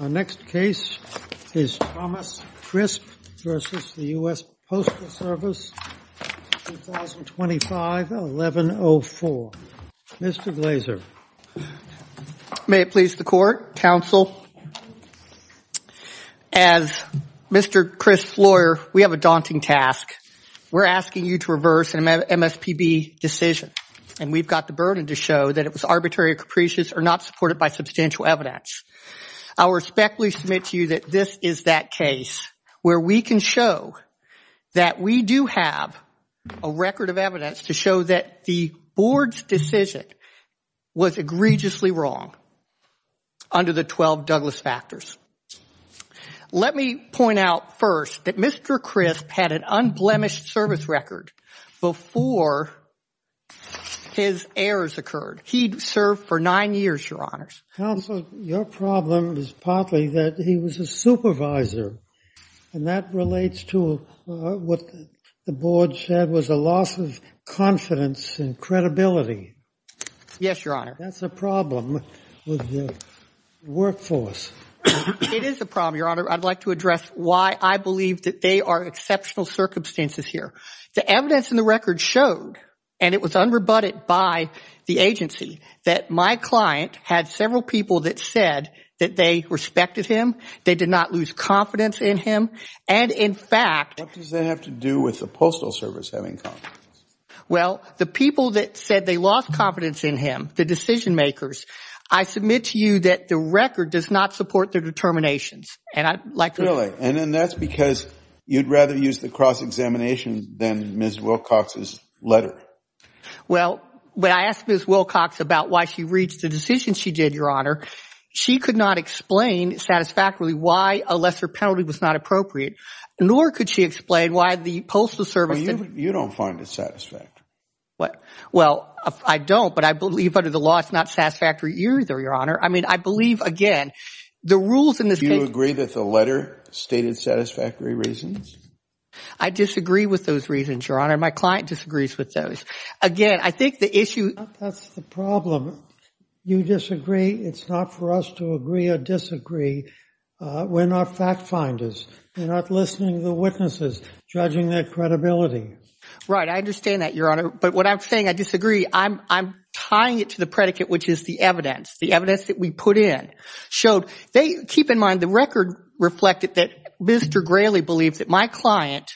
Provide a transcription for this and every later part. Our next case is Thomas Crisp v. U.S. Postal Service, 2025-1104. Mr. Glazer. May it please the Court, Counsel. As Mr. Crisp's lawyer, we have a daunting task. We're asking you to reverse an MSPB decision, and we've got the burden to show that it was arbitrary or capricious or not supported by substantial evidence. I respectfully submit to you that this is that case where we can show that we do have a record of evidence to show that the Board's decision was egregiously wrong under the 12 Douglas factors. Let me point out first that Mr. Crisp had an unblemished service record before his errors occurred. He served for nine years, Your Honors. Counsel, your problem is partly that he was a supervisor, and that relates to what the Board said was a loss of confidence and credibility. Yes, Your Honor. That's a problem with the workforce. It is a problem, Your Honor. I'd like to address why I believe that they are exceptional circumstances here. The evidence in the record showed, and it was unrebutted by the agency, that my client had several people that said that they respected him, they did not lose confidence in him, and in fact – What does that have to do with the Postal Service having confidence? Well, the people that said they lost confidence in him, the decision-makers, I submit to you that the record does not support their determinations, and I'd like – Really? And that's because you'd rather use the cross-examination than Ms. Wilcox's letter? Well, when I asked Ms. Wilcox about why she reached the decision she did, Your Honor, she could not explain satisfactorily why a lesser penalty was not appropriate, nor could she explain why the Postal Service – You don't find it satisfactory. Well, I don't, but I believe under the law it's not satisfactory either, Your Honor. I mean, I believe, again, the rules in this case – Stated satisfactory reasons? I disagree with those reasons, Your Honor. My client disagrees with those. Again, I think the issue – That's the problem. You disagree, it's not for us to agree or disagree. We're not fact-finders. We're not listening to the witnesses, judging their credibility. Right, I understand that, Your Honor. But what I'm saying, I disagree, I'm tying it to the predicate, which is the evidence. The evidence that we put in showed – keep in mind, the record reflected that Mr. Grayley believed that my client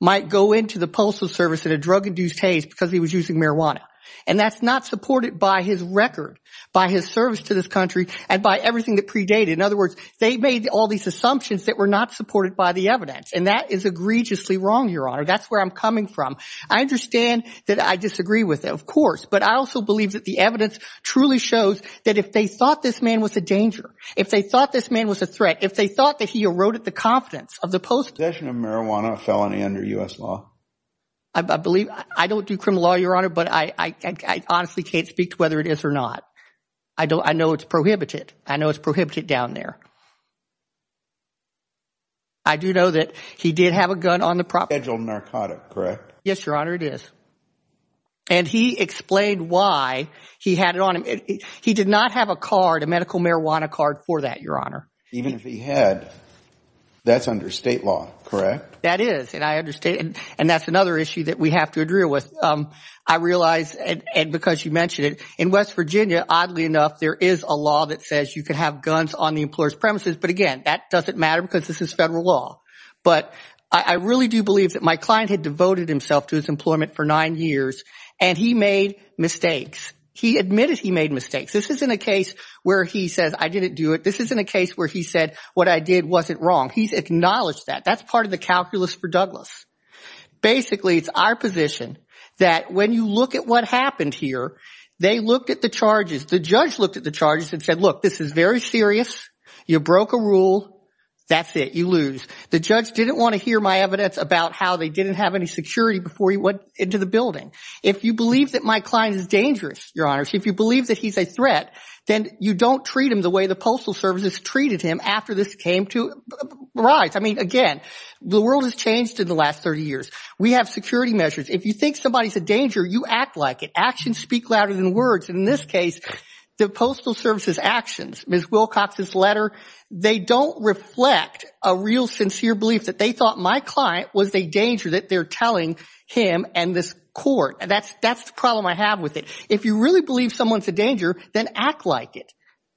might go into the Postal Service in a drug-induced haze because he was using marijuana. And that's not supported by his record, by his service to this country, and by everything that predated. In other words, they made all these assumptions that were not supported by the evidence. And that is egregiously wrong, Your Honor. That's where I'm coming from. I understand that I disagree with it, of course, but I also believe that the evidence truly shows that if they thought this man was a danger, if they thought this man was a threat, if they thought that he eroded the confidence of the Postal Service – Possession of marijuana, a felony under U.S. law. I believe – I don't do criminal law, Your Honor, but I honestly can't speak to whether it is or not. I know it's prohibited. I know it's prohibited down there. I do know that he did have a gun on the property – Scheduled narcotic, correct? Yes, Your Honor, it is. And he explained why he had it on him. He did not have a card, a medical marijuana card for that, Your Honor. Even if he had, that's under state law, correct? That is, and I understand – and that's another issue that we have to agree with. I realize, and because you mentioned it, in West Virginia, oddly enough, there is a law that says you can have guns on the employer's premises. But again, that doesn't matter because this is federal law. But I really do believe that my client had devoted himself to his employment for nine years, and he made mistakes. He admitted he made mistakes. This isn't a case where he says, I didn't do it. This isn't a case where he said, what I did wasn't wrong. He's acknowledged that. That's part of the calculus for Douglas. Basically, it's our position that when you look at what happened here, they looked at the charges. The judge looked at the charges and said, look, this is very serious. You lose. That's it. You lose. The judge didn't want to hear my evidence about how they didn't have any security before he went into the building. If you believe that my client is dangerous, Your Honor, if you believe that he's a threat, then you don't treat him the way the Postal Service has treated him after this came to rise. I mean, again, the world has changed in the last 30 years. We have security measures. If you think somebody is a danger, you act like it. Actions speak louder than words. In this case, the Postal Service's actions, Ms. Wilcox's letter, they don't reflect a real sincere belief that they thought my client was a danger that they're telling him and this court. That's the problem I have with it. If you really believe someone's a danger, then act like it.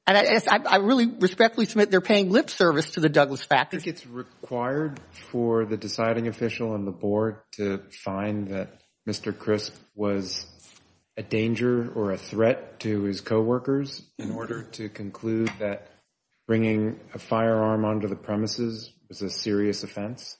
I really respectfully submit they're paying lip service to the Douglas factor. It's required for the deciding official on the board to find that Mr. Crisp was a danger or a threat to his co-workers in order to conclude that bringing a firearm onto the premises was a serious offense?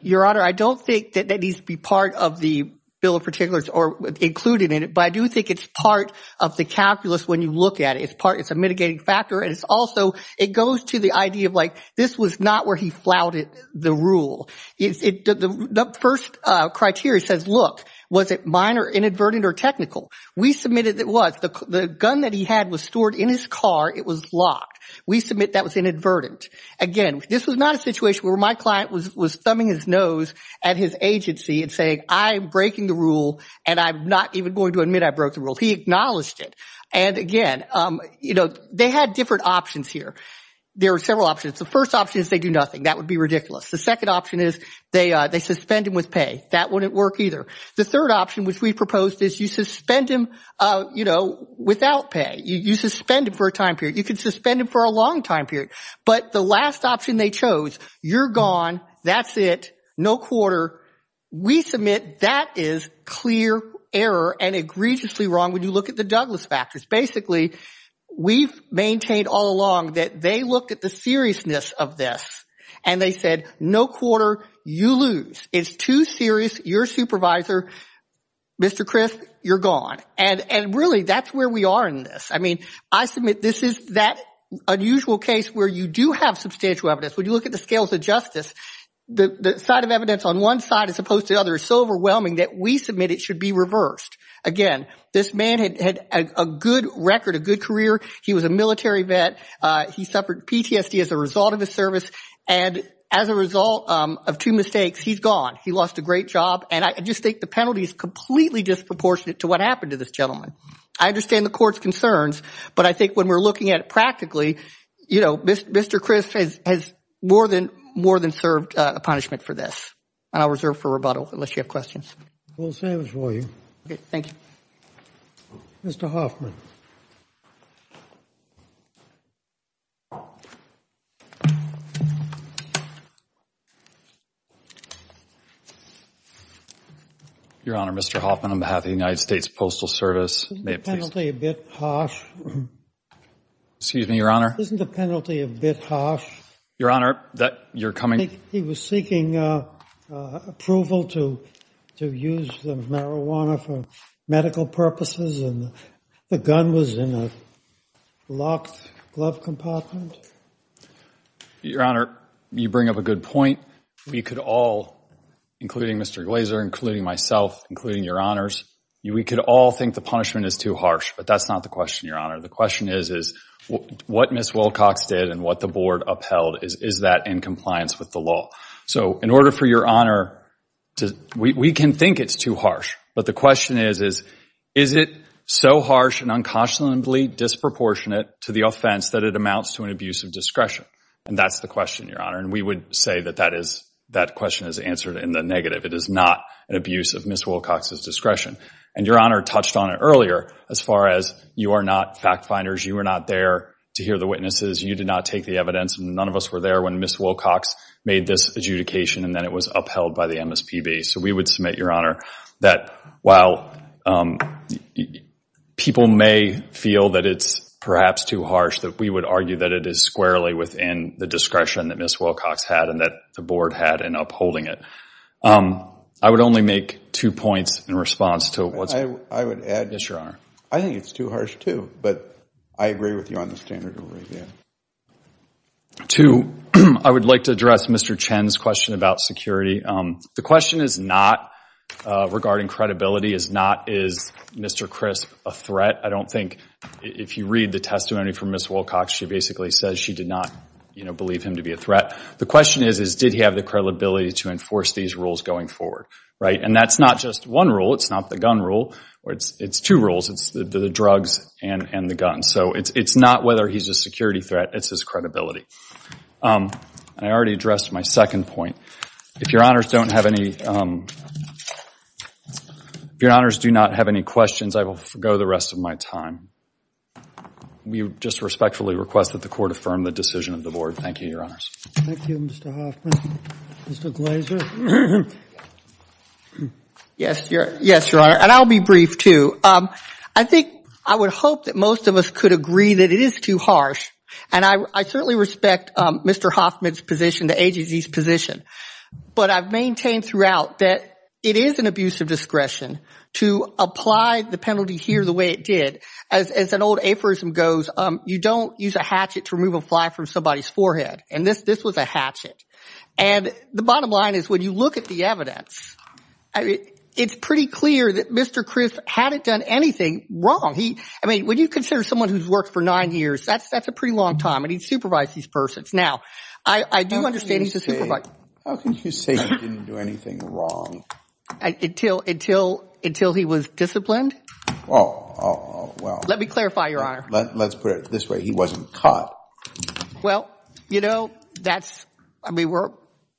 Your Honor, I don't think that that needs to be part of the bill of particulars or included in it, but I do think it's part of the calculus when you look at it. It's a mitigating factor and it's also, it goes to the idea of like, this was not where he flouted the rule. The first criteria says, look, was it minor, inadvertent, or technical? We submitted it was. The gun that he had was stored in his car. It was locked. We submit that was inadvertent. Again, this was not a situation where my client was thumbing his nose at his agency and saying, I'm breaking the rule and I'm not even going to admit I broke the rule. He acknowledged it. And again, they had different options here. There are several options. The first option is they do nothing. That would be ridiculous. The second option is they suspend him with pay. That wouldn't work either. The third option, which we proposed, is you suspend him without pay. You suspend him for a time period. You could suspend him for a long time period, but the last option they chose, you're gone, that's it, no quarter. We submit that is clear error and egregiously wrong when you look at the Douglas factors. Basically, we've maintained all along that they looked at the seriousness of this and they said, no quarter, you lose. It's too serious. You're supervisor, Mr. Chris, you're gone. And really, that's where we are in this. I mean, I submit this is that unusual case where you do have substantial evidence. When you look at the scales of justice, the side of evidence on one side as opposed to the other is so overwhelming that we submit it should be reversed. Again, this man had a good record, a good career. He was a military vet. He suffered PTSD as a result of his service. And as a result of two mistakes, he's gone. He lost a great job. And I just think the penalty is completely disproportionate to what happened to this gentleman. I understand the court's concerns, but I think when we're looking at it practically, you know, Mr. Chris has more than served a punishment for this. And I'll reserve for rebuttal unless you have Mr. Hoffman. Your Honor, Mr. Hoffman, on behalf of the United States Postal Service. Excuse me, Your Honor. Isn't the penalty a bit harsh? Your Honor, that you're coming. He was and the gun was in a locked glove compartment. Your Honor, you bring up a good point. We could all, including Mr. Glazer, including myself, including Your Honors, we could all think the punishment is too harsh. But that's not the question, Your Honor. The question is, is what Ms. Wilcox did and what the board upheld, is that in compliance with the law? So in order for Your Honor to, we can think it's too harsh, but the question is, is it so harsh and unconscionably disproportionate to the offense that it amounts to an abuse of discretion? And that's the question, Your Honor. And we would say that that is, that question is answered in the negative. It is not an abuse of Ms. Wilcox's discretion. And Your Honor touched on it earlier, as far as you are not fact finders. You were not there to hear the witnesses. You did not take the evidence and none of us were there when Ms. Wilcox made this adjudication and then it was upheld by the MSPB. So we would submit, Your While people may feel that it's perhaps too harsh, that we would argue that it is squarely within the discretion that Ms. Wilcox had and that the board had in upholding it. I would only make two points in response to what's. I would add. Yes, Your Honor. I think it's too harsh too, but I agree with you on the standard over again. Two, I would like to address Mr. Chen's question about security. The question is not regarding credibility, is not, is Mr. Crisp a threat? I don't think, if you read the testimony from Ms. Wilcox, she basically says she did not, you know, believe him to be a threat. The question is, is did he have the credibility to enforce these rules going forward? Right? And that's not just one rule. It's not the gun rule or it's, it's two rules. It's the drugs and, and the gun. So it's, it's not whether he's a security threat. It's his credibility. I already addressed my second point. If Your Honors don't have any, if Your Honors do not have any questions, I will go the rest of my time. We just respectfully request that the court affirm the decision of the board. Thank you, Your Honors. Thank you, Mr. Hoffman. Mr. Glazer. Yes, Your Honor. And I'll be brief too. I think, I would hope that most of us could agree that it is too harsh. And I, I certainly respect Mr. Hoffman's position, the agency's position. But I've maintained throughout that it is an abuse of discretion to apply the penalty here the way it did. As, as an old aphorism goes, you don't use a hatchet to remove a fly from somebody's forehead. And this, this was a hatchet. And the bottom line is when you look at the evidence, it's pretty clear that Mr. Crisp hadn't done anything wrong. He, I mean, when you consider someone who's worked for nine years, that's, that's a pretty long time. And he'd supervised these persons. Now, I, I do understand he's a supervisor. How can you say he didn't do anything wrong? Until, until, until he was disciplined. Oh, well. Let me clarify, Your Honor. Let's put it this way. He wasn't caught. Well, you know, that's, I mean, we're,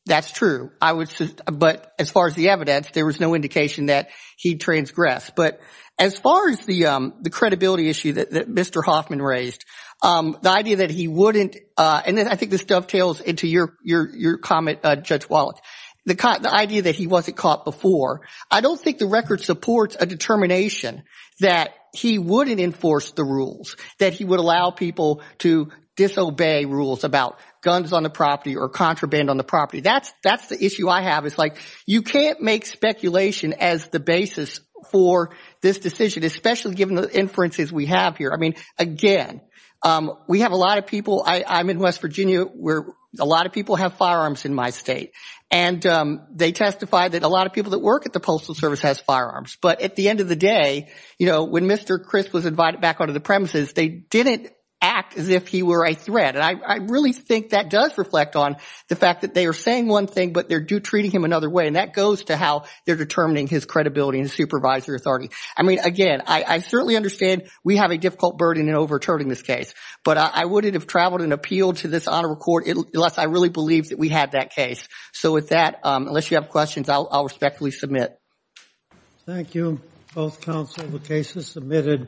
that's true. I was just, but as far as the evidence, there was no indication that he transgressed. But as far as the, the credibility issue that Mr. Hoffman raised, the idea that he wouldn't, and then I think this dovetails into your, your, your comment, Judge Wallach, the idea that he wasn't caught before. I don't think the record supports a determination that he wouldn't enforce the rules, that he would allow people to disobey rules about guns on the property or contraband on the property. That's, that's the I have is like, you can't make speculation as the basis for this decision, especially given the inferences we have here. I mean, again, we have a lot of people, I, I'm in West Virginia where a lot of people have firearms in my state. And they testify that a lot of people that work at the Postal Service has firearms. But at the end of the day, you know, when Mr. Crisp was invited back onto the premises, they didn't act as if he were a threat. And I, I really think that does on the fact that they are saying one thing, but they're do treating him another way. And that goes to how they're determining his credibility and supervisory authority. I mean, again, I, I certainly understand we have a difficult burden in overturning this case, but I wouldn't have traveled and appealed to this Honorable Court unless I really believed that we had that case. So with that, unless you have questions, I'll, I'll respectfully submit. Thank you. Both counsel, the case is submitted.